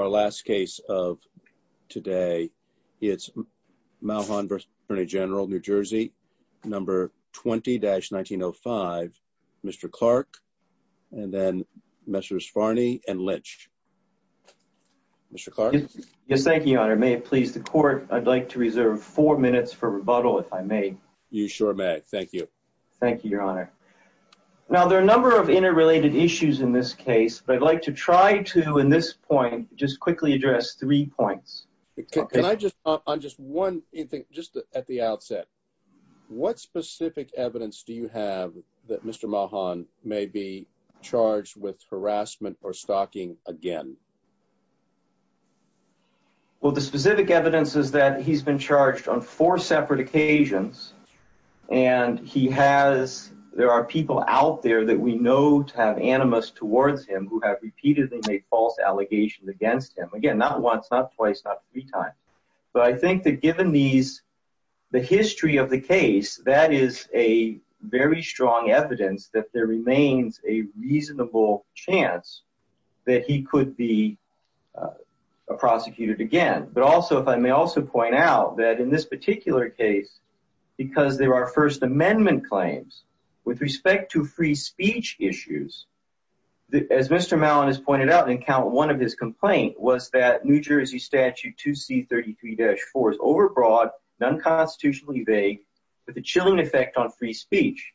20-1905, Mr. Clark, Mr. Sfarney, and Mr. Lynch. Yes, thank you, Your Honor. May it please the Court, I'd like to reserve four minutes for rebuttal, if I may. You sure may. Thank you. Thank you, Your Honor. Now, there are a number of interrelated issues in this case, but I'd like to try to, in this point, just quickly address three points. Can I just, on just one thing, just at the outset, what specific evidence do you have that Mr. Mahan may be charged with harassment or stalking again? Well, the specific evidence is that he's been charged on four separate occasions, and he has, there are people out there that we know to have animus towards him who have repeatedly made false allegations against him. Again, not once, not twice, not three times. But I think that given these, the history of the case, that is a very strong evidence that there remains a reasonable chance that he could be prosecuted again. But also, if I may also point out, that in this particular case, because there are First Amendment claims, with respect to free speech issues, as Mr. Mahan has pointed out in Count 1 of his complaint, was that New Jersey Statute 2C33-4 is overbroad, non-constitutionally vague, with a chilling effect on free speech.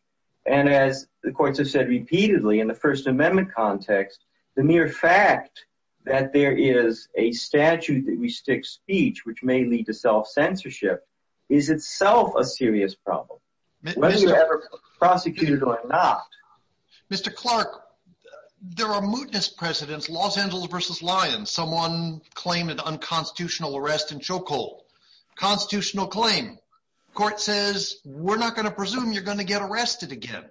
And as the courts have said repeatedly, in the First Amendment context, the mere fact that there is a statute that restricts speech, which may lead to self-censorship, is itself a serious problem, whether you're ever prosecuted or not. Mr. Clark, there are mootness precedents, Los Angeles v. Lyons, someone claiming unconstitutional arrest and chokehold. Constitutional claim. Court says, we're not going to presume you're going to get arrested again.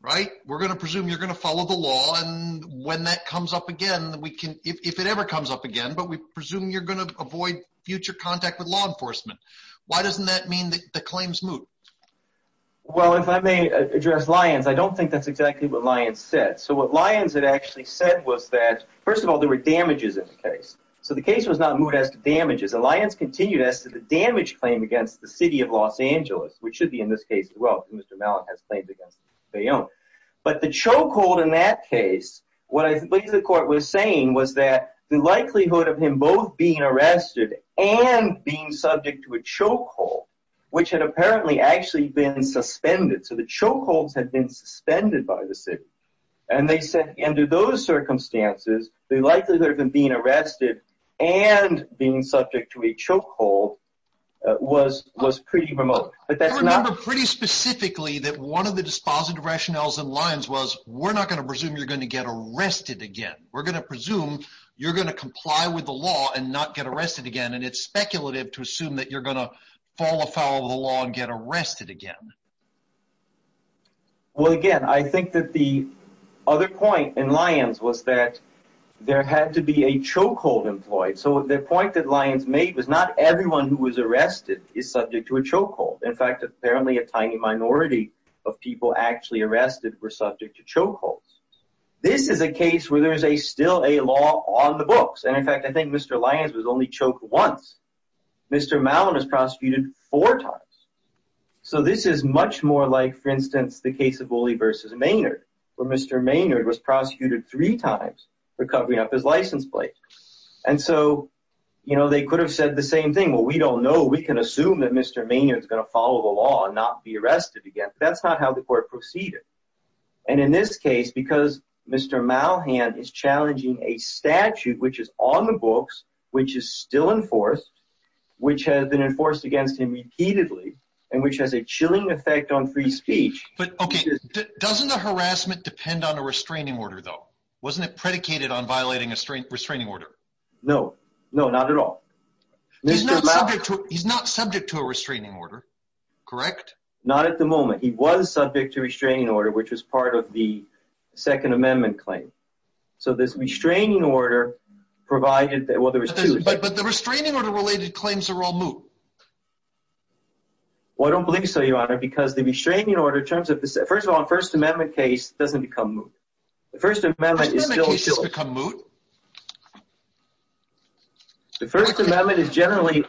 Right? We're going to presume you're going to follow the law, and when that comes up again, we can, if it ever comes up again, but we presume you're going to avoid future contact with law enforcement. Why doesn't that mean that the claim's moot? Well, if I may address Lyons, I don't think that's exactly what Lyons said. So what Lyons had actually said was that, first of all, there were damages in the case. So the case was not moot as to damages. Lyons continued as to the damage claim against the city of Los Angeles, which should be in this case as well, as Mr. Mahan has claimed against Bayonne. But the chokehold in that case, what the court was saying was that the likelihood of him both being arrested and being subject to a chokehold, which had apparently actually been suspended, so the chokeholds had been suspended by the city, and they said under those circumstances, the likelihood of him being arrested and being subject to a chokehold was pretty remote. I remember pretty specifically that one of the dispositive rationales in Lyons was, we're not going to presume you're going to get arrested again. We're going to presume you're going to comply with the law and not get arrested again, and it's speculative to assume that you're going to fall afoul of the law and get arrested again. Well, again, I think that the other point in Lyons was that there had to be a chokehold employed. So the point that Lyons made was not everyone who was arrested is subject to a chokehold. In fact, apparently a tiny minority of people actually arrested were subject to chokeholds. This is a case where there is still a law on the books. And in fact, I think Mr. Lyons was only choked once. Mr. Mahon was prosecuted four times. So this is much more like, for instance, the case of Woolley v. Maynard, where Mr. Maynard was prosecuted three times for covering up his license plate. And so they could have said the same thing. Well, we don't know. We can assume that Mr. Maynard is going to follow the law and not be arrested again. But that's not how the court proceeded. And in this case, because Mr. Mahon is challenging a statute which is on the books, which is still enforced, which has been enforced against him repeatedly, and which has a chilling effect on free speech. But OK, doesn't the harassment depend on a restraining order, though? Wasn't it predicated on violating a restraining order? No, no, not at all. He's not subject to a restraining order, correct? Not at the moment. He was subject to a restraining order, which was part of the Second Amendment claim. So this restraining order provided that... But the restraining order-related claims are all moot. Well, I don't believe so, Your Honor, because the restraining order-first of all, a First Amendment case doesn't become moot. First Amendment cases become moot? The First Amendment is generally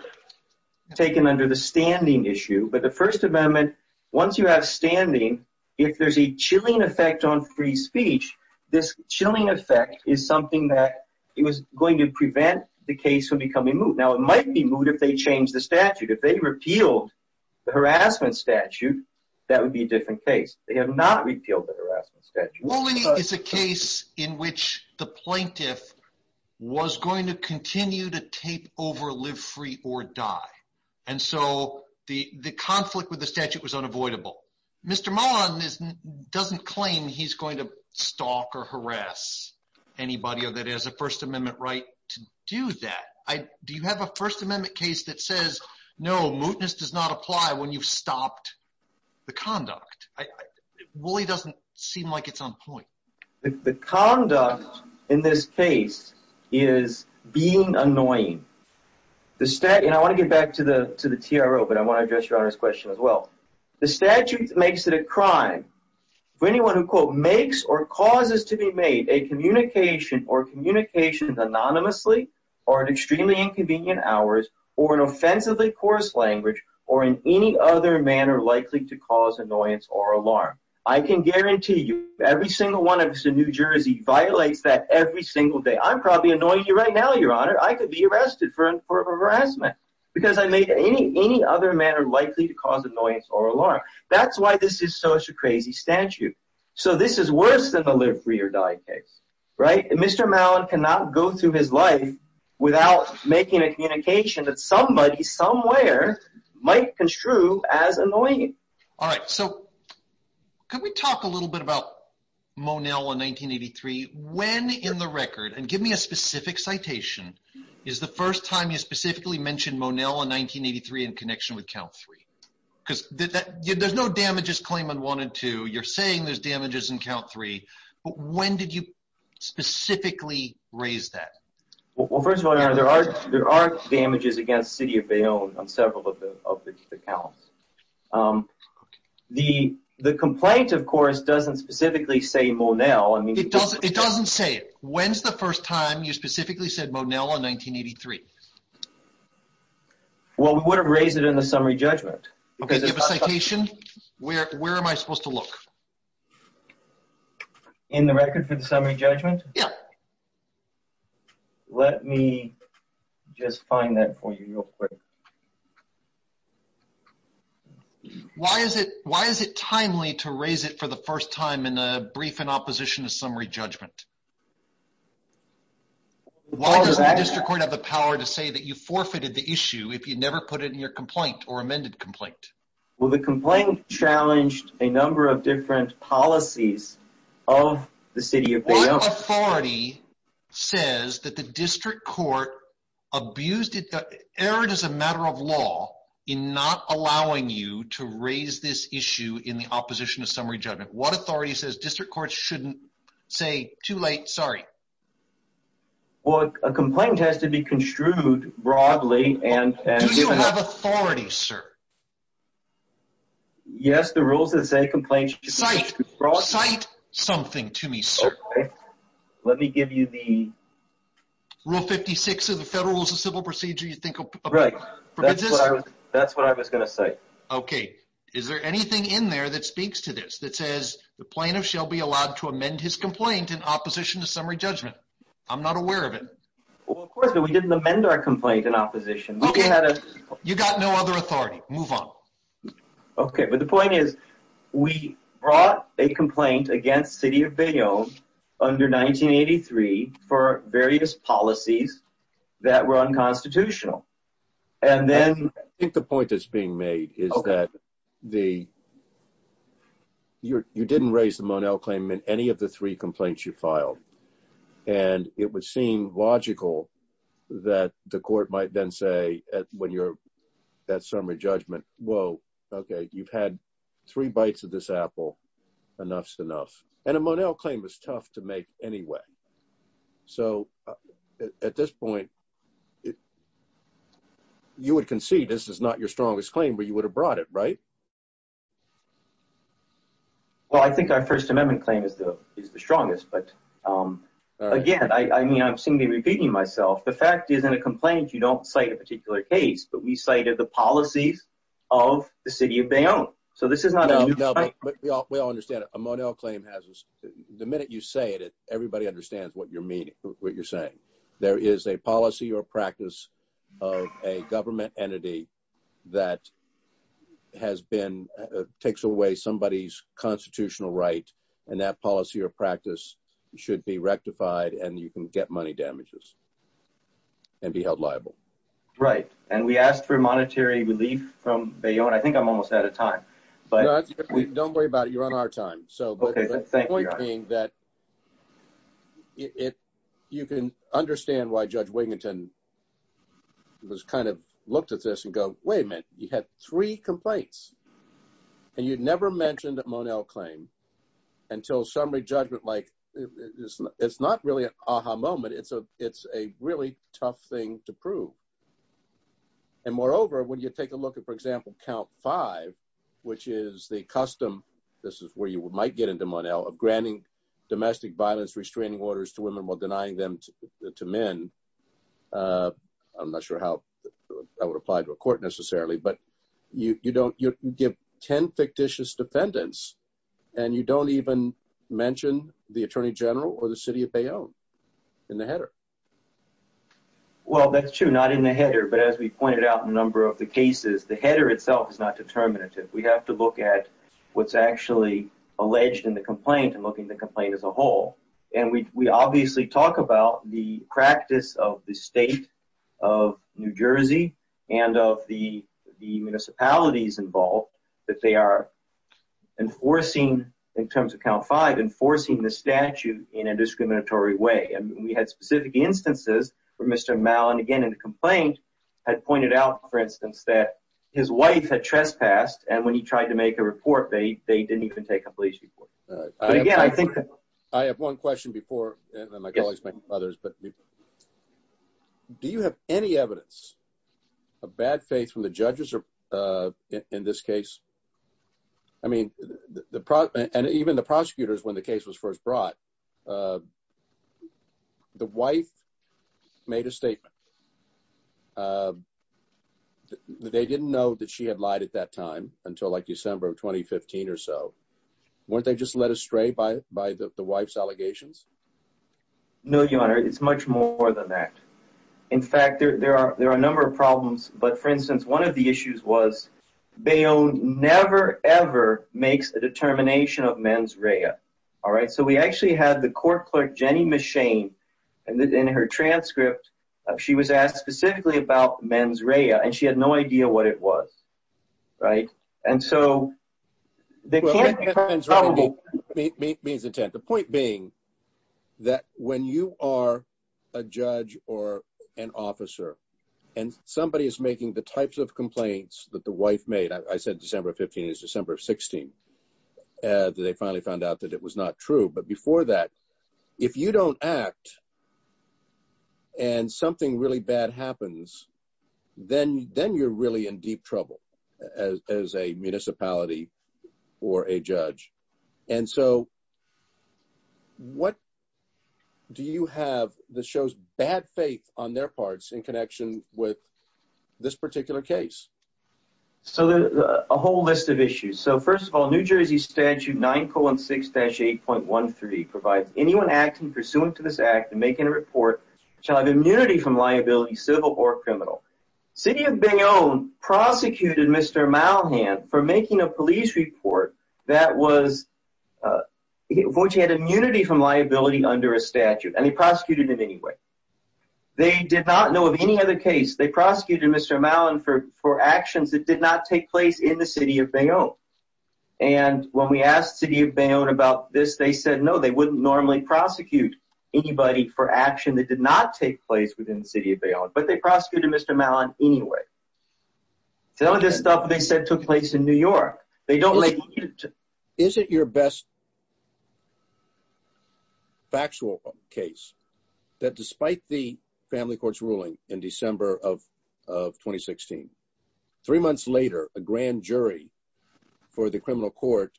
taken under the standing issue. But the First Amendment, once you have standing, if there's a chilling effect on free speech, this chilling effect is something that is going to prevent the case from becoming moot. Now, it might be moot if they change the statute. If they repealed the harassment statute, that would be a different case. They have not repealed the harassment statute. Woolly is a case in which the plaintiff was going to continue to tape over live free or die. And so the conflict with the statute was unavoidable. Mr. Mullen doesn't claim he's going to stalk or harass anybody that has a First Amendment right to do that. Do you have a First Amendment case that says no, mootness does not apply when you've stopped the conduct? Woolly doesn't seem like it's on point. The conduct in this case is being annoying. And I want to get back to the TRO, but I want to address Your Honor's question as well. The statute makes it a crime for anyone who, quote, makes or causes to be made a communication or communications anonymously or at extremely inconvenient hours or in offensively coarse language or in any other manner likely to cause annoyance or alarm. I can guarantee you every single one of us in New Jersey violates that every single day. I'm probably annoying you right now, Your Honor. I could be arrested for harassment because I made any other manner likely to cause annoyance or alarm. That's why this is such a crazy statute. So this is worse than the live free or die case, right? Mr. Mullen cannot go through his life without making a communication that somebody somewhere might construe as annoying. All right. So can we talk a little bit about Monell in 1983? When in the record and give me a specific citation is the first time you specifically mentioned Monell in 1983 in connection with count three? Because there's no damages claim on one and two. You're saying there's damages in count three. But when did you specifically raise that? Well, first of all, there are there are damages against city of Bayonne on several of the counts. The the complaint, of course, doesn't specifically say Monell. I mean, it does. It doesn't say it. When's the first time you specifically said Monell in 1983? Well, we would have raised it in the summary judgment because of a citation. Where where am I supposed to look in the record for the summary judgment? Yeah. Let me just find that for you real quick. Why is it why is it timely to raise it for the first time in a brief in opposition to summary judgment? Why does the district court have the power to say that you forfeited the issue if you never put it in your complaint or amended complaint? Well, the complaint challenged a number of different policies of the city of Bayonne. What authority says that the district court abused it, erred as a matter of law in not allowing you to raise this issue in the opposition to summary judgment? What authority says district courts shouldn't say too late? Sorry. Well, a complaint has to be construed broadly and Do you have authority, sir? Yes. The rules that say complaints should be brought Cite something to me, sir. Let me give you the Rule 56 of the Federal Rules of Civil Procedure you think of Right. That's what I was going to cite. Okay. Is there anything in there that speaks to this that says the plaintiff shall be allowed to amend his complaint in opposition to summary judgment? I'm not aware of it. Well, of course, but we didn't amend our complaint in opposition. Okay. You got no other authority. Move on. Okay. But the point is, we brought a complaint against city of Bayonne under 1983 for various policies that were unconstitutional. And then I think the point that's being made is that the You didn't raise the Monell claim in any of the three complaints you filed. And it would seem logical that the court might then say when you're that summary judgment. Whoa. Okay, you've had three bites of this apple enough enough and a Monell claim is tough to make anyway. So at this point, it You would concede this is not your strongest claim, but you would have brought it right Well, I think our First Amendment claim is the is the strongest but Again, I mean, I've seen me repeating myself. The fact is in a complaint. You don't cite a particular case, but we cited the policies of the city of Bayonne. So this is not a And takes away somebody's constitutional right and that policy or practice should be rectified and you can get money damages. And be held liable. Right. And we asked for monetary relief from Bayonne. I think I'm almost out of time. Don't worry about it. You're on our time. So Okay. Thank you. You can understand why Judge Wiginton Was kind of looked at this and go, wait a minute. You had three complaints. And you'd never mentioned that Monell claim until summary judgment like this. It's not really an aha moment. It's a, it's a really tough thing to prove. And moreover, when you take a look at, for example, count five, which is the custom. This is where you might get into Monell of granting domestic violence restraining orders to women while denying them to men. I'm not sure how I would apply to a court, necessarily, but you don't give 10 fictitious defendants and you don't even mention the Attorney General or the city of Bayonne in the header. Well, that's true. Not in the header. But as we pointed out a number of the cases, the header itself is not determinative. We have to look at What's actually alleged in the complaint and looking to complain as a whole and we obviously talk about the practice of the state of New Jersey and of the municipalities involved that they are Enforcing in terms of count five enforcing the statute in a discriminatory way. And we had specific instances where Mr. Mellon again in the complaint had pointed out, for instance, that his wife had trespassed. And when he tried to make a report, they, they didn't even take a police report. I have one question before my colleagues, my brothers, but Do you have any evidence of bad faith from the judges are in this case. I mean, the product and even the prosecutors when the case was first brought The wife made a statement. They didn't know that she had lied at that time until like December of 2015 or so weren't they just led astray by by the wife's allegations. No, your honor. It's much more than that. In fact, there are there are a number of problems. But for instance, one of the issues was They own never ever makes a determination of mens rea. Alright, so we actually had the court clerk Jenny machine and in her transcript. She was asked specifically about men's rea and she had no idea what it was. Right. And so the Point being that when you are a judge or an officer and somebody is making the types of complaints that the wife made. I said, December 15 is December 16 They finally found out that it was not true. But before that, if you don't act. And something really bad happens, then, then you're really in deep trouble as a municipality or a judge and so What Do you have the shows bad faith on their parts in connection with this particular case. So a whole list of issues. So first of all, New Jersey statute nine colon six dash 8.13 provides anyone acting pursuant to this act and making a report shall have immunity from liability civil or criminal city of being own prosecuted. Mr. Malhan for making a police report that was Immunity from liability under a statute and he prosecuted in any way they did not know of any other case they prosecuted. Mr. Malhan for for actions that did not take place in the city of Bayonne And when we asked city of Bayonne about this. They said no, they wouldn't normally prosecute anybody for action that did not take place within the city of Bayonne, but they prosecuted. Mr. Malhan anyway. So this stuff they said took place in New York. They don't like Is it your best Factual case that despite the family courts ruling in December of 2016 three months later, a grand jury for the criminal court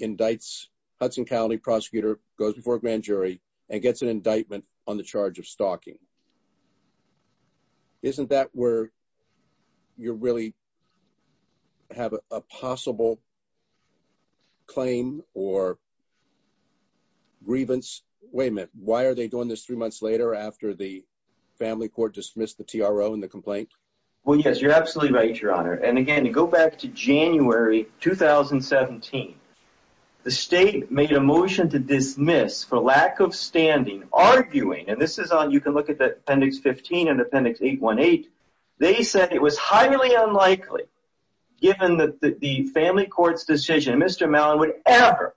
indicts Hudson County prosecutor goes before grand jury and gets an indictment on the charge of stalking Isn't that where You're really Have a possible Claim or Wait a minute. Why are they doing this three months later after the family court dismissed the TRO and the complaint. Well, yes, you're absolutely right, Your Honor. And again, to go back to January 2017 The state made a motion to dismiss for lack of standing arguing and this is on. You can look at the appendix 15 and appendix 818. They said it was highly unlikely Given that the family courts decision. Mr. Malhan would ever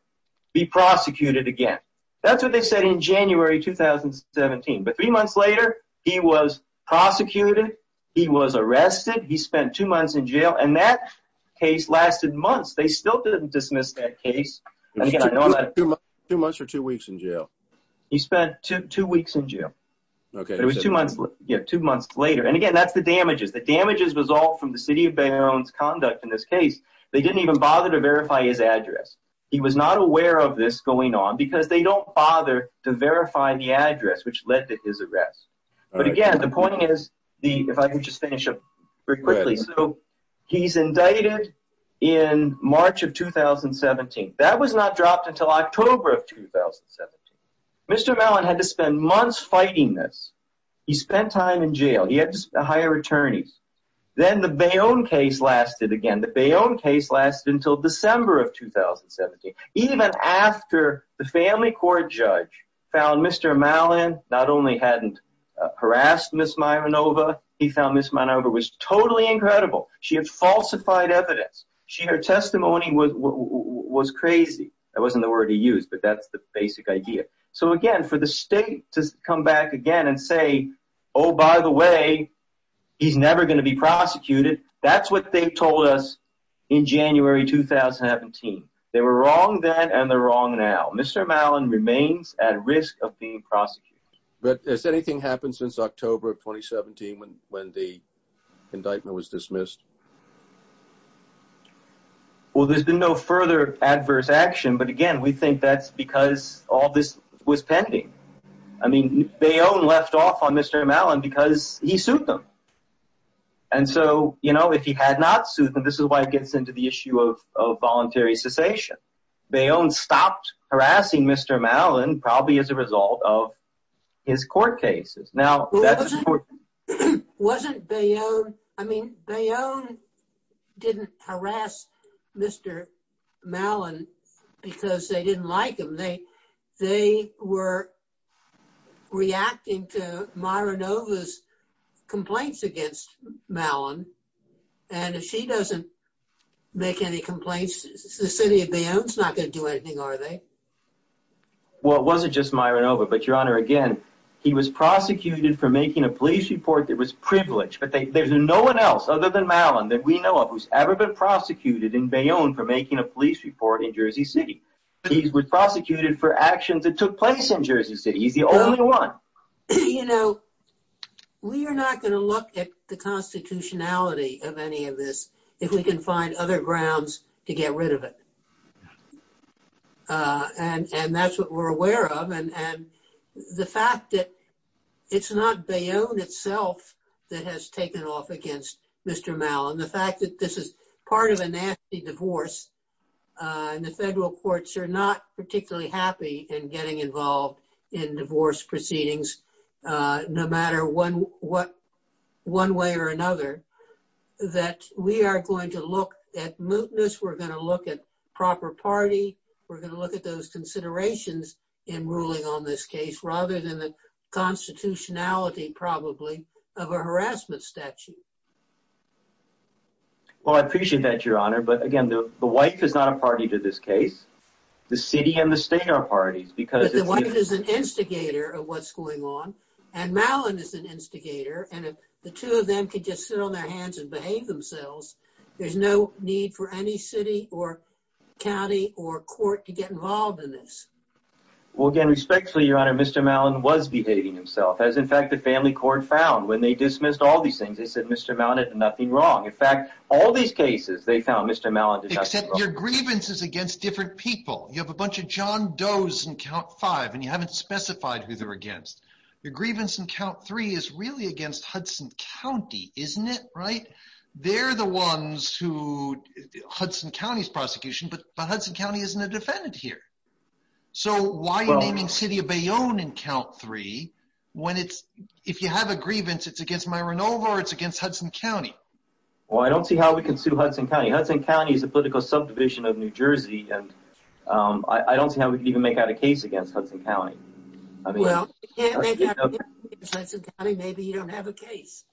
be prosecuted again. That's what they said in January 2017 but three months later, he was prosecuted. He was arrested. He spent two months in jail and that Case lasted months. They still didn't dismiss that case. Two months or two weeks in jail. He spent two weeks in jail. Okay, it was two months. Yeah, two months later. And again, that's the damages. The damages was all from the city of Bayer owns conduct in this case. They didn't even bother to verify his address. He was not aware of this going on because they don't bother to verify the address which led to his arrest. But again, the point is the if I can just finish up very quickly. So he's indicted in March of 2017. That was not dropped until October of 2017. Mr. Malhan had to spend months fighting this. He spent time in jail. He had to hire attorneys. Then the Bayon case lasted again. The Bayon case lasted until December of 2017. Even after the family court judge found Mr. Malhan not only hadn't harassed Ms. Myronova, he found Ms. Myronova was totally incredible. She had falsified evidence. Her testimony was crazy. That wasn't the word he used, but that's the basic idea. So again, for the state to come back again and say, oh, by the way, he's never going to be prosecuted. That's what they told us in January 2017. They were wrong then and they're wrong now. Mr. Malhan remains at risk of being prosecuted. But has anything happened since October of 2017 when the indictment was dismissed? Well, there's been no further adverse action. But again, we think that's because all this was pending. I mean, Bayon left off on Mr. Malhan because he sued them. And so, you know, if he had not sued them, this is why it gets into the issue of voluntary cessation. Bayon stopped harassing Mr. Malhan probably as a result of his court cases. Wasn't Bayon... I mean, Bayon didn't harass Mr. Malhan because they didn't like him. They were reacting to Myronova's complaints against Malhan. And if she doesn't make any complaints, the city of Bayon's not going to do anything, are they? Well, it wasn't just Myronova, but Your Honor, again, he was prosecuted for making a police report that was privileged. But there's no one else other than Malhan that we know of who's ever been prosecuted in Bayon for making a police report in Jersey City. He was prosecuted for actions that took place in Jersey City. He's the only one. You know, we are not going to look at the constitutionality of any of this if we can find other grounds to get rid of it. And that's what we're aware of. And the fact that it's not Bayon itself that has taken off against Mr. Malhan, the fact that this is part of a nasty divorce, and the federal courts are not particularly happy in getting involved in divorce proceedings, no matter one way or another, that we are going to look at mootness. We're going to look at proper party. We're going to look at those considerations in ruling on this case, rather than the constitutionality, probably, of a harassment statute. Well, I appreciate that, Your Honor. But again, the wife is not a party to this case. The city and the state are parties. But the wife is an instigator of what's going on, and Malhan is an instigator. And if the two of them could just sit on their hands and behave themselves, there's no need for any city or county or court to get involved in this. Well, again, respectfully, Your Honor, Mr. Malhan was behaving himself, as in fact the family court found when they dismissed all these things. They said Mr. Malhan did nothing wrong. In fact, all these cases, they found Mr. Malhan did nothing wrong. I said your grievance is against different people. You have a bunch of John Does in count five, and you haven't specified who they're against. Your grievance in count three is really against Hudson County, isn't it, right? They're the ones who, Hudson County's prosecution, but Hudson County isn't a defendant here. So why are you naming City of Bayonne in count three, when it's, if you have a grievance, it's against Myronova or it's against Hudson County? Well, I don't see how we can sue Hudson County. Hudson County is a political subdivision of New Jersey, and I don't see how we can even make out a case against Hudson County. Well, if you can't make out a case against Hudson County, maybe you don't have a case.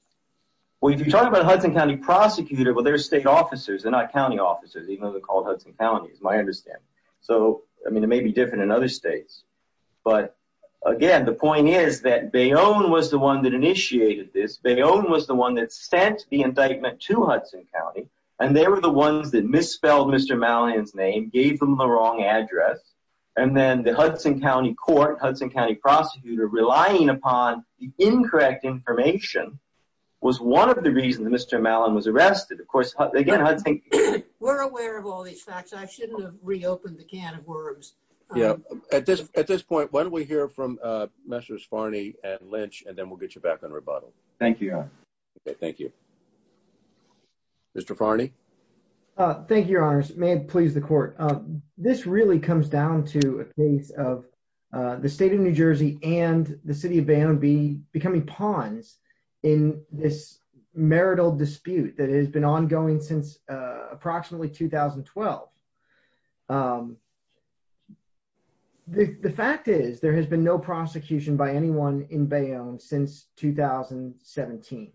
Well, if you're talking about a Hudson County prosecutor, well, they're state officers. They're not county officers, even though they're called Hudson County, is my understanding. So, I mean, it may be different in other states, but again, the point is that Bayonne was the one that initiated this. Bayonne was the one that sent the indictment to Hudson County, and they were the ones that misspelled Mr. Malhan's name, gave them the wrong address. And then the Hudson County court, Hudson County prosecutor, relying upon the incorrect information was one of the reasons Mr. Malhan was arrested. Of course, again, Hudson... We're aware of all these facts. I shouldn't have reopened the can of worms. At this point, why don't we hear from Messrs. Farney and Lynch, and then we'll get you back on rebuttal. Thank you, Your Honor. Thank you. Mr. Farney? Thank you, Your Honors. May it please the court. This really comes down to a case of the state of New Jersey and the city of Bayonne becoming pawns in this marital dispute that has been ongoing since approximately 2012. The fact is, there has been no prosecution by anyone in Bayonne since 2017.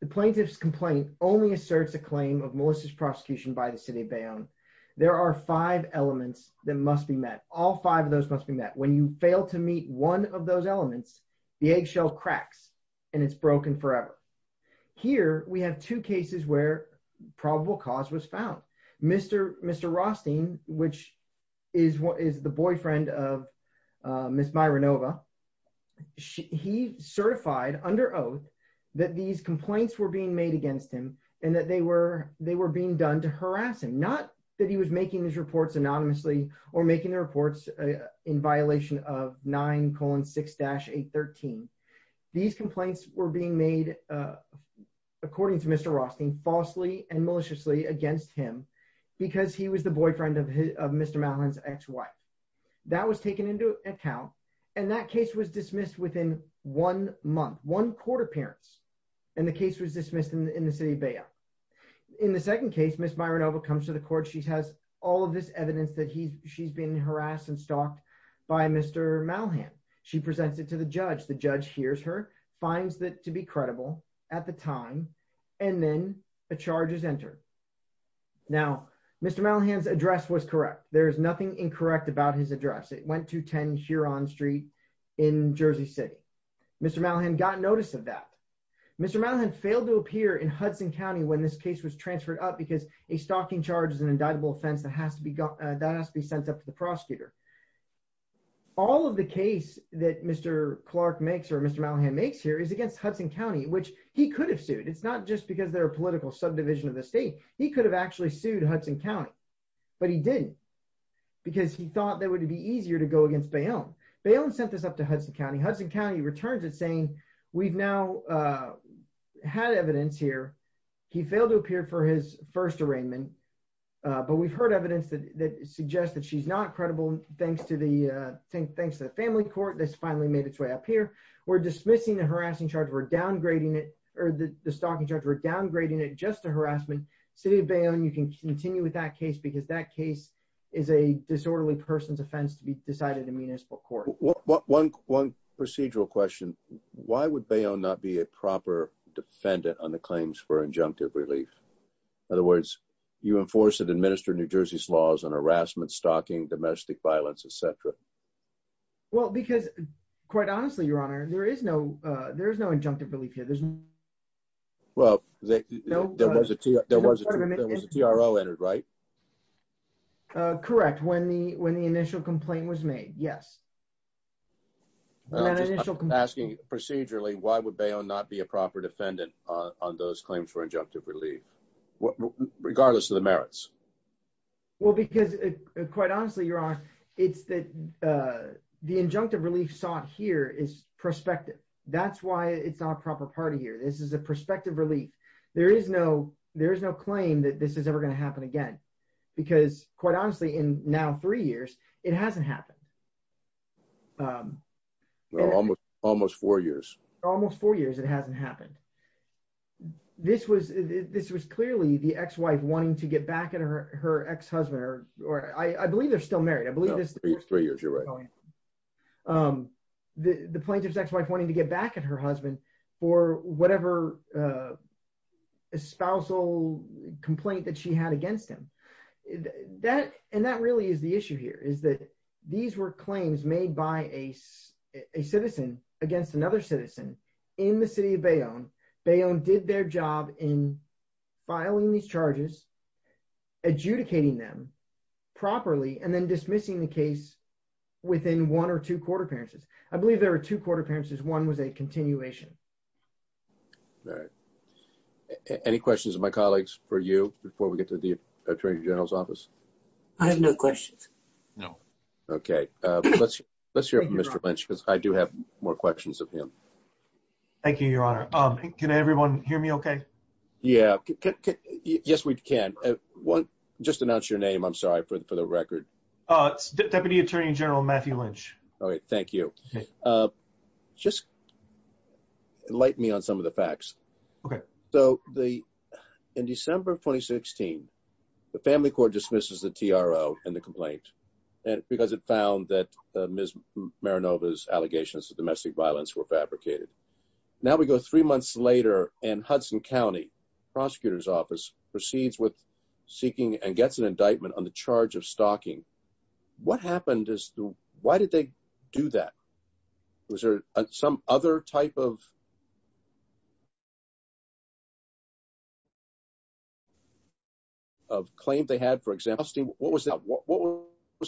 The plaintiff's complaint only asserts a claim of malicious prosecution by the city of Bayonne. There are five elements that must be met. All five of those must be met. When you fail to meet one of those elements, the eggshell cracks, and it's broken forever. Here, we have two cases where probable cause was found. Mr. Rothstein, which is the boyfriend of Ms. Myronova, he certified under oath that these complaints were being made against him and that they were being done to harass him. Not that he was making these reports anonymously or making the reports in violation of 9-6-813. These complaints were being made, according to Mr. Rothstein, falsely and maliciously against him because he was the boyfriend of Mr. Malhan's ex-wife. That was taken into account, and that case was dismissed within one month, one court appearance, and the case was dismissed in the city of Bayonne. In the second case, Ms. Myronova comes to the court. She has all of this evidence that she's been harassed and stalked by Mr. Malhan. She presents it to the judge. The judge hears her, finds it to be credible at the time, and then a charge is entered. Now, Mr. Malhan's address was correct. There is nothing incorrect about his address. It went to 10 Huron Street in Jersey City. Mr. Malhan got notice of that. Mr. Malhan failed to appear in Hudson County when this case was transferred up because a stalking charge is an indictable offense that has to be sent up to the prosecutor. All of the case that Mr. Clark makes or Mr. Malhan makes here is against Hudson County, which he could have sued. It's not just because they're a political subdivision of the state. He could have actually sued Hudson County, but he didn't because he thought that it would be easier to go against Bayonne. Bayonne sent this up to Hudson County. Hudson County returns it, saying we've now had evidence here. He failed to appear for his first arraignment, but we've heard evidence that suggests that she's not credible thanks to the family court. This finally made its way up here. We're dismissing the stalking charge. We're downgrading it just to harassment. City of Bayonne, you can continue with that case because that case is a disorderly person's offense to be decided in municipal court. One procedural question. Why would Bayonne not be a proper defendant on the claims for injunctive relief? In other words, you enforce and administer New Jersey's laws on harassment, stalking, domestic violence, etc.? Well, because quite honestly, Your Honor, there is no injunctive relief here. Well, there was a TRO entered, right? Correct. When the initial complaint was made, yes. Asking procedurally, why would Bayonne not be a proper defendant on those claims for injunctive relief, regardless of the merits? Well, because quite honestly, Your Honor, it's that the injunctive relief sought here is prospective. That's why it's not a proper party here. This is a prospective relief. There is no claim that this is ever going to happen again, because quite honestly, in now three years, it hasn't happened. Almost four years. Almost four years it hasn't happened. This was clearly the ex-wife wanting to get back at her ex-husband. I believe they're still married. Three years, you're right. The plaintiff's ex-wife wanting to get back at her husband for whatever spousal complaint that she had against him. And that really is the issue here, is that these were claims made by a citizen against another citizen in the city of Bayonne. Bayonne did their job in filing these charges, adjudicating them properly, and then dismissing the case within one or two court appearances. I believe there were two court appearances. One was a continuation. All right. Any questions of my colleagues for you before we get to the Attorney General's office? I have no questions. No. Okay. Let's hear from Mr. Lynch, because I do have more questions of him. Thank you, Your Honor. Can everyone hear me okay? Yeah. Yes, we can. Just announce your name, I'm sorry, for the record. Deputy Attorney General Matthew Lynch. All right. Thank you. Just enlighten me on some of the facts. Okay. In December 2016, the family court dismisses the TRO and the complaint, because it found that Ms. Marinova's allegations of domestic violence were fabricated. Now we go three months later, and Hudson County Prosecutor's Office proceeds with seeking and gets an indictment on the charge of stalking. What happened? Why did they do that? Was there some other type of claim they had, for example? What was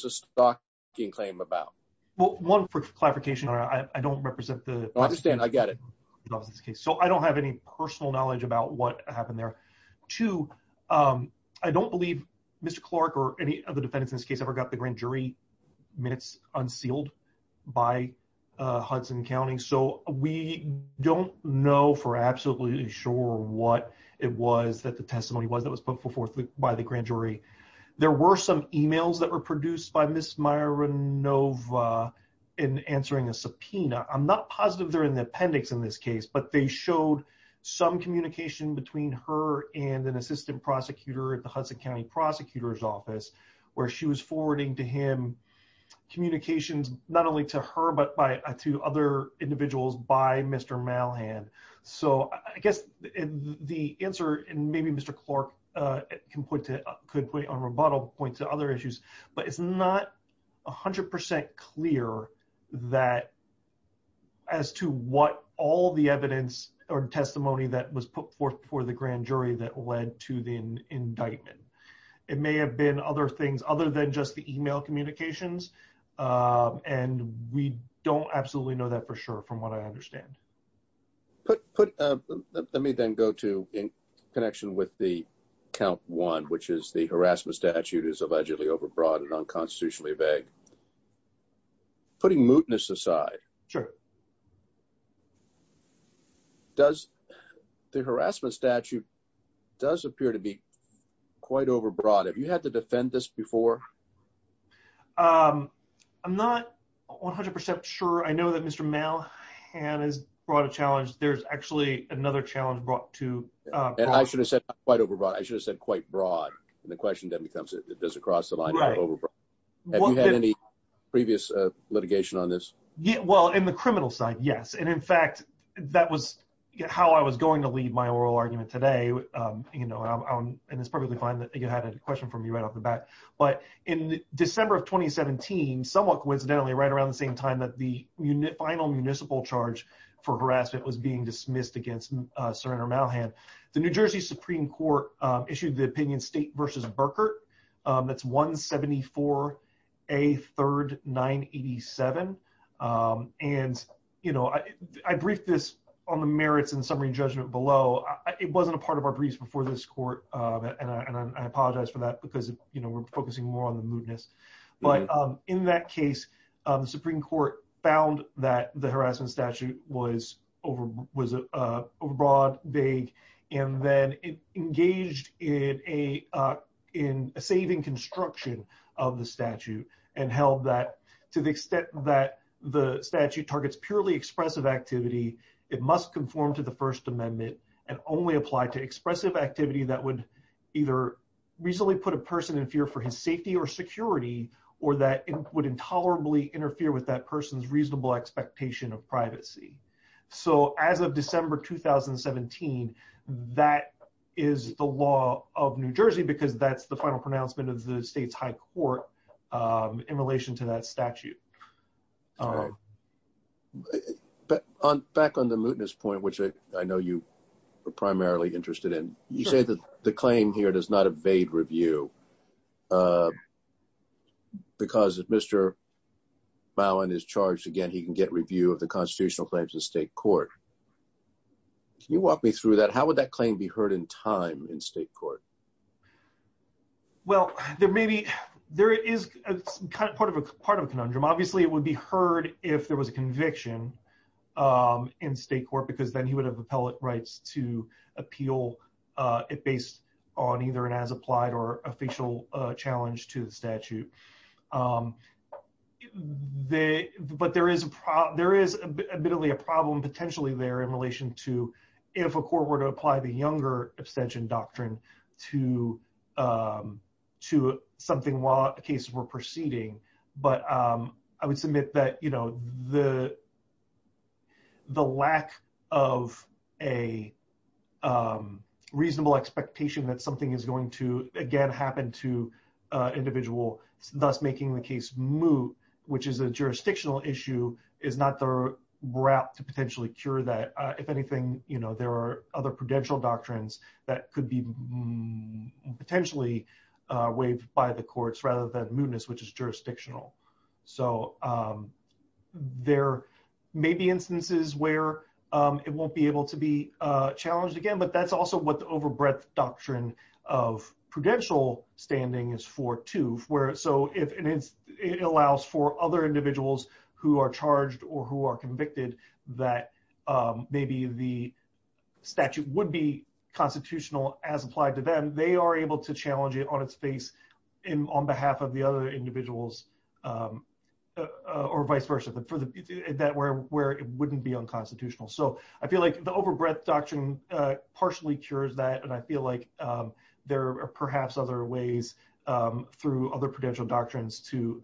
the stalking claim about? Well, one, for clarification, Your Honor, I don't represent the… I understand. I get it. So I don't have any personal knowledge about what happened there. Two, I don't believe Mr. Clark or any other defendants in this case ever got the grand jury minutes unsealed by Hudson County. So we don't know for absolutely sure what it was that the testimony was that was put forth by the grand jury. There were some emails that were produced by Ms. Marinova in answering a subpoena. I'm not positive they're in the appendix in this case, but they showed some communication between her and an assistant prosecutor at the Hudson County Prosecutor's Office, where she was forwarding to him communications not only to her, but to other individuals by Mr. Malhan. So I guess the answer, and maybe Mr. Clark could, on rebuttal, point to other issues, but it's not 100% clear as to what all the evidence or testimony that was put forth for the grand jury that led to the indictment. It may have been other things other than just the email communications, and we don't absolutely know that for sure from what I understand. Let me then go to, in connection with the count one, which is the harassment statute is allegedly overbroad and unconstitutionally vague. Putting mootness aside… Sure. …the harassment statute does appear to be quite overbroad. Have you had to defend this before? I'm not 100% sure. I know that Mr. Malhan has brought a challenge. There's actually another challenge brought to… And I should have said quite overbroad. I should have said quite broad, and the question then becomes, does it cross the line of overbroad? Right. Have you had any previous litigation on this? Well, in the criminal side, yes, and in fact, that was how I was going to lead my oral argument today, and it's perfectly fine that you had a question for me right off the bat. But in December of 2017, somewhat coincidentally, right around the same time that the final municipal charge for harassment was being dismissed against Sir Andrew Malhan, the New Jersey Supreme Court issued the opinion State v. Burkert. That's 174A 3rd 987. And, you know, I briefed this on the merits and summary judgment below. It wasn't a part of our briefs before this court, and I apologize for that because, you know, we're focusing more on the mootness. But in that case, the Supreme Court found that the harassment statute was overbroad, vague, and then engaged in a saving construction of the statute and held that to the extent that the statute targets purely expressive activity, it must conform to the First Amendment and only apply to expressive activity that would either reasonably put a person in fear for his safety or security. Or that would intolerably interfere with that person's reasonable expectation of privacy. So as of December 2017, that is the law of New Jersey because that's the final pronouncement of the state's high court in relation to that statute. But on back on the mootness point, which I know you are primarily interested in, you say that the claim here does not evade review. Because if Mr. Bowen is charged again, he can get review of the constitutional claims in state court. Can you walk me through that? How would that claim be heard in time in state court? Well, there may be there is part of a part of a conundrum. Obviously, it would be heard if there was a conviction in state court, because then he would have appellate rights to appeal it based on either an as applied or official challenge to the statute. But there is a there is admittedly a problem potentially there in relation to if a court were to apply the younger abstention doctrine to to something while cases were proceeding. But I would submit that, you know, the thus making the case moot, which is a jurisdictional issue, is not the route to potentially cure that. If anything, you know, there are other prudential doctrines that could be potentially waived by the courts rather than mootness, which is jurisdictional. So there may be instances where it won't be able to be challenged again. But that's also what the overbreadth doctrine of prudential standing is for to where so if it allows for other individuals who are charged or who are convicted that maybe the statute would be constitutional as applied to them, they are able to challenge it on its face in on behalf of the other individuals or vice versa, but for the that were where it wouldn't be unconstitutional. So I feel like the overbreadth doctrine partially cures that and I feel like there are perhaps other ways through other prudential doctrines to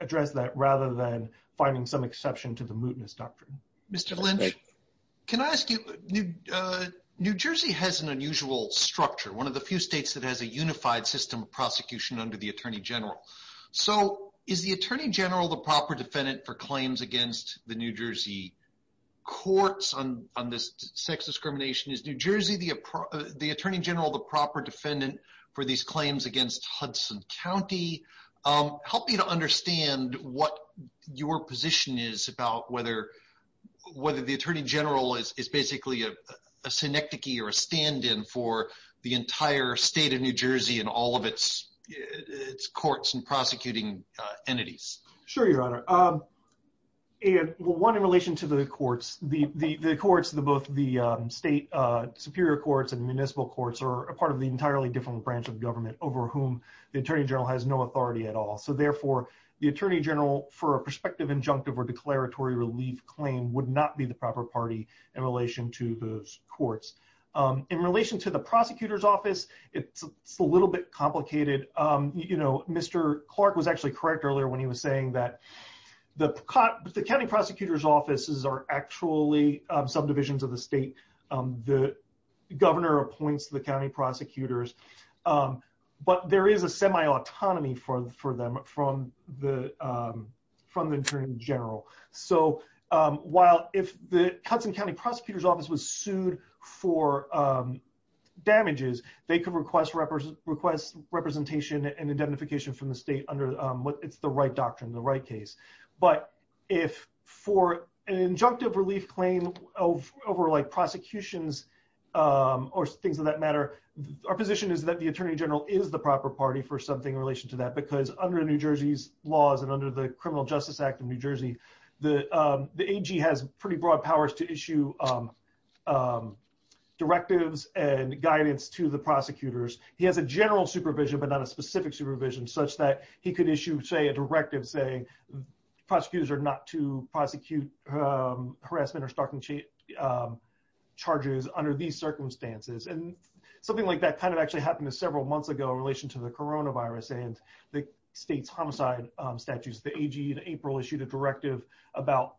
address that rather than finding some exception to the mootness doctrine. Mr. Lynch, can I ask you, New Jersey has an unusual structure, one of the few states that has a unified system of prosecution under the Attorney General. So is the Attorney General the proper defendant for claims against the New Jersey courts on this sex discrimination? Is New Jersey the Attorney General the proper defendant for these claims against Hudson County? Help me to understand what your position is about whether the Attorney General is basically a synecdoche or a stand in for the entire state of New Jersey and all of its courts and prosecuting entities. Sure, Your Honor. One, in relation to the courts, the courts, both the state superior courts and municipal courts are a part of the entirely different branch of government over whom the Attorney General has no authority at all. So therefore, the Attorney General for a prospective injunctive or declaratory relief claim would not be the proper party in relation to those courts. In relation to the prosecutor's office, it's a little bit complicated. You know, Mr. Clark was actually correct earlier when he was saying that the county prosecutor's offices are actually subdivisions of the state. The governor appoints the county prosecutors, but there is a semi autonomy for them from the Attorney General. So while if the Hudson County prosecutor's office was sued for damages, they could request representation and identification from the state under what it's the right doctrine, the right case. But if for an injunctive relief claim over like prosecutions or things of that matter, our position is that the Attorney General is the proper party for something in relation to that because under New Jersey's laws and under the Criminal Justice Act of New Jersey, the AG has pretty broad powers to issue directives and guidance to the prosecutors. He has a general supervision, but not a specific supervision such that he could issue, say, a directive saying prosecutors are not to prosecute harassment or stalking charges under these circumstances. And something like that kind of actually happened several months ago in relation to the coronavirus and the state's homicide statutes. The AG in April issued a directive about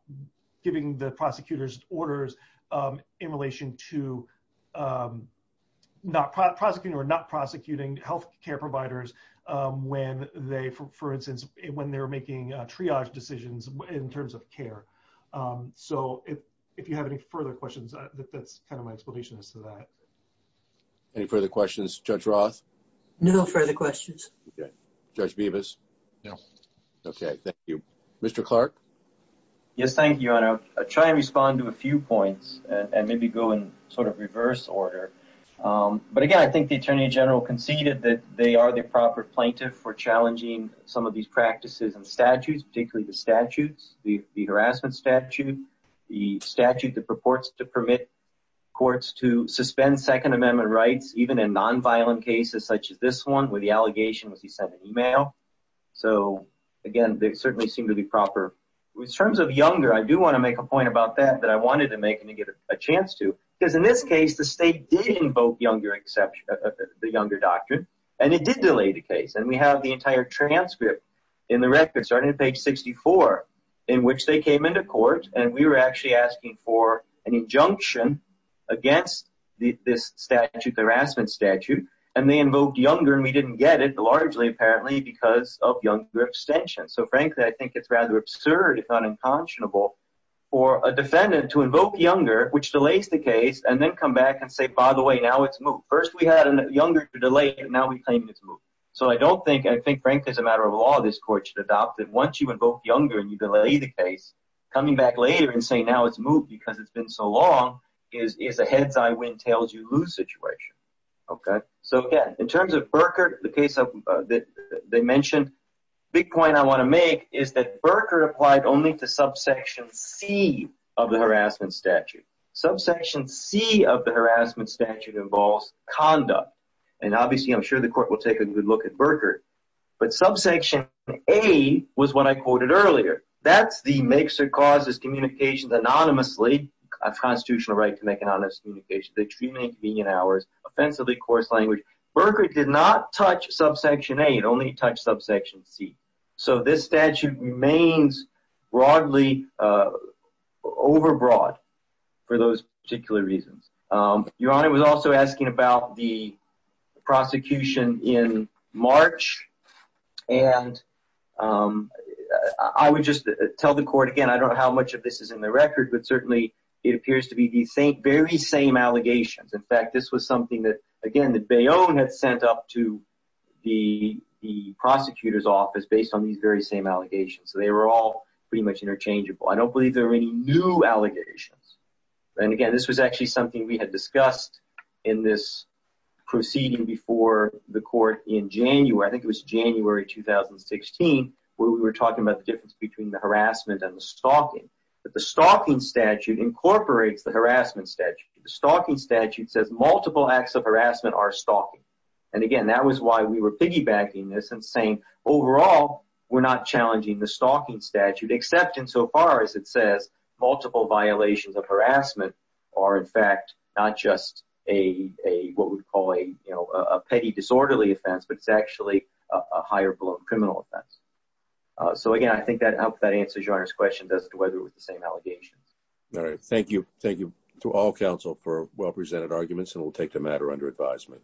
giving the prosecutors orders in relation to not prosecuting or not prosecuting health care providers when they, for instance, when they're making triage decisions in terms of care. So if you have any further questions, that's kind of my explanation as to that. Any further questions? Judge Roth? No further questions. Judge Bevis? Okay, thank you. Mr. Clark? Yes, thank you, Your Honor. I'll try and respond to a few points and maybe go in sort of reverse order. But again, I think the Attorney General conceded that they are the proper plaintiff for challenging some of these practices and statutes, particularly the statutes, the harassment statute, the statute that purports to permit courts to suspend Second Amendment rights, even in nonviolent cases such as this one where the allegation was he sent an email. So, again, they certainly seem to be proper. In terms of Younger, I do want to make a point about that that I wanted to make and to give a chance to. Because in this case, the state did invoke Younger exception, the Younger Doctrine, and it did delay the case. And we have the entire transcript in the record, starting at page 64, in which they came into court and we were actually asking for an injunction against this statute, the harassment statute. And they invoked Younger and we didn't get it, largely, apparently, because of Younger abstention. So, frankly, I think it's rather absurd, if not unconscionable, for a defendant to invoke Younger, which delays the case, and then come back and say, by the way, now it's moved. First, we had Younger to delay it, and now we claim it's moved. So I don't think – I think, frankly, as a matter of law, this court should adopt that once you invoke Younger and you delay the case, coming back later and saying now it's moved because it's been so long is a heads-high, wind-tails-you-lose situation. So, again, in terms of Burkert, the case that they mentioned, the big point I want to make is that Burkert applied only to subsection C of the harassment statute. Subsection C of the harassment statute involves conduct. And, obviously, I'm sure the court will take a good look at Burkert. But subsection A was what I quoted earlier. That's the makes-or-causes communication anonymously. It's a constitutional right to make an anonymous communication. They treat it in convenient hours, offensively coarse language. Burkert did not touch subsection A. It only touched subsection C. So this statute remains broadly overbroad for those particular reasons. Your Honor was also asking about the prosecution in March. And I would just tell the court, again, I don't know how much of this is in the record, but certainly it appears to be the very same allegations. In fact, this was something that, again, that Bayonne had sent up to the prosecutor's office based on these very same allegations. So they were all pretty much interchangeable. I don't believe there were any new allegations. And, again, this was actually something we had discussed in this proceeding before the court in January. I think it was January 2016 where we were talking about the difference between the harassment and the stalking. But the stalking statute incorporates the harassment statute. The stalking statute says multiple acts of harassment are stalking. And, again, that was why we were piggybacking this and saying, overall, we're not challenging the stalking statute, except insofar as it says multiple violations of harassment are, in fact, not just what we would call a petty disorderly offense, but it's actually a higher-blown criminal offense. So, again, I think that answers Your Honor's question as to whether it was the same allegation. All right. Thank you. Thank you to all counsel for well-presented arguments, and we'll take the matter under advisement.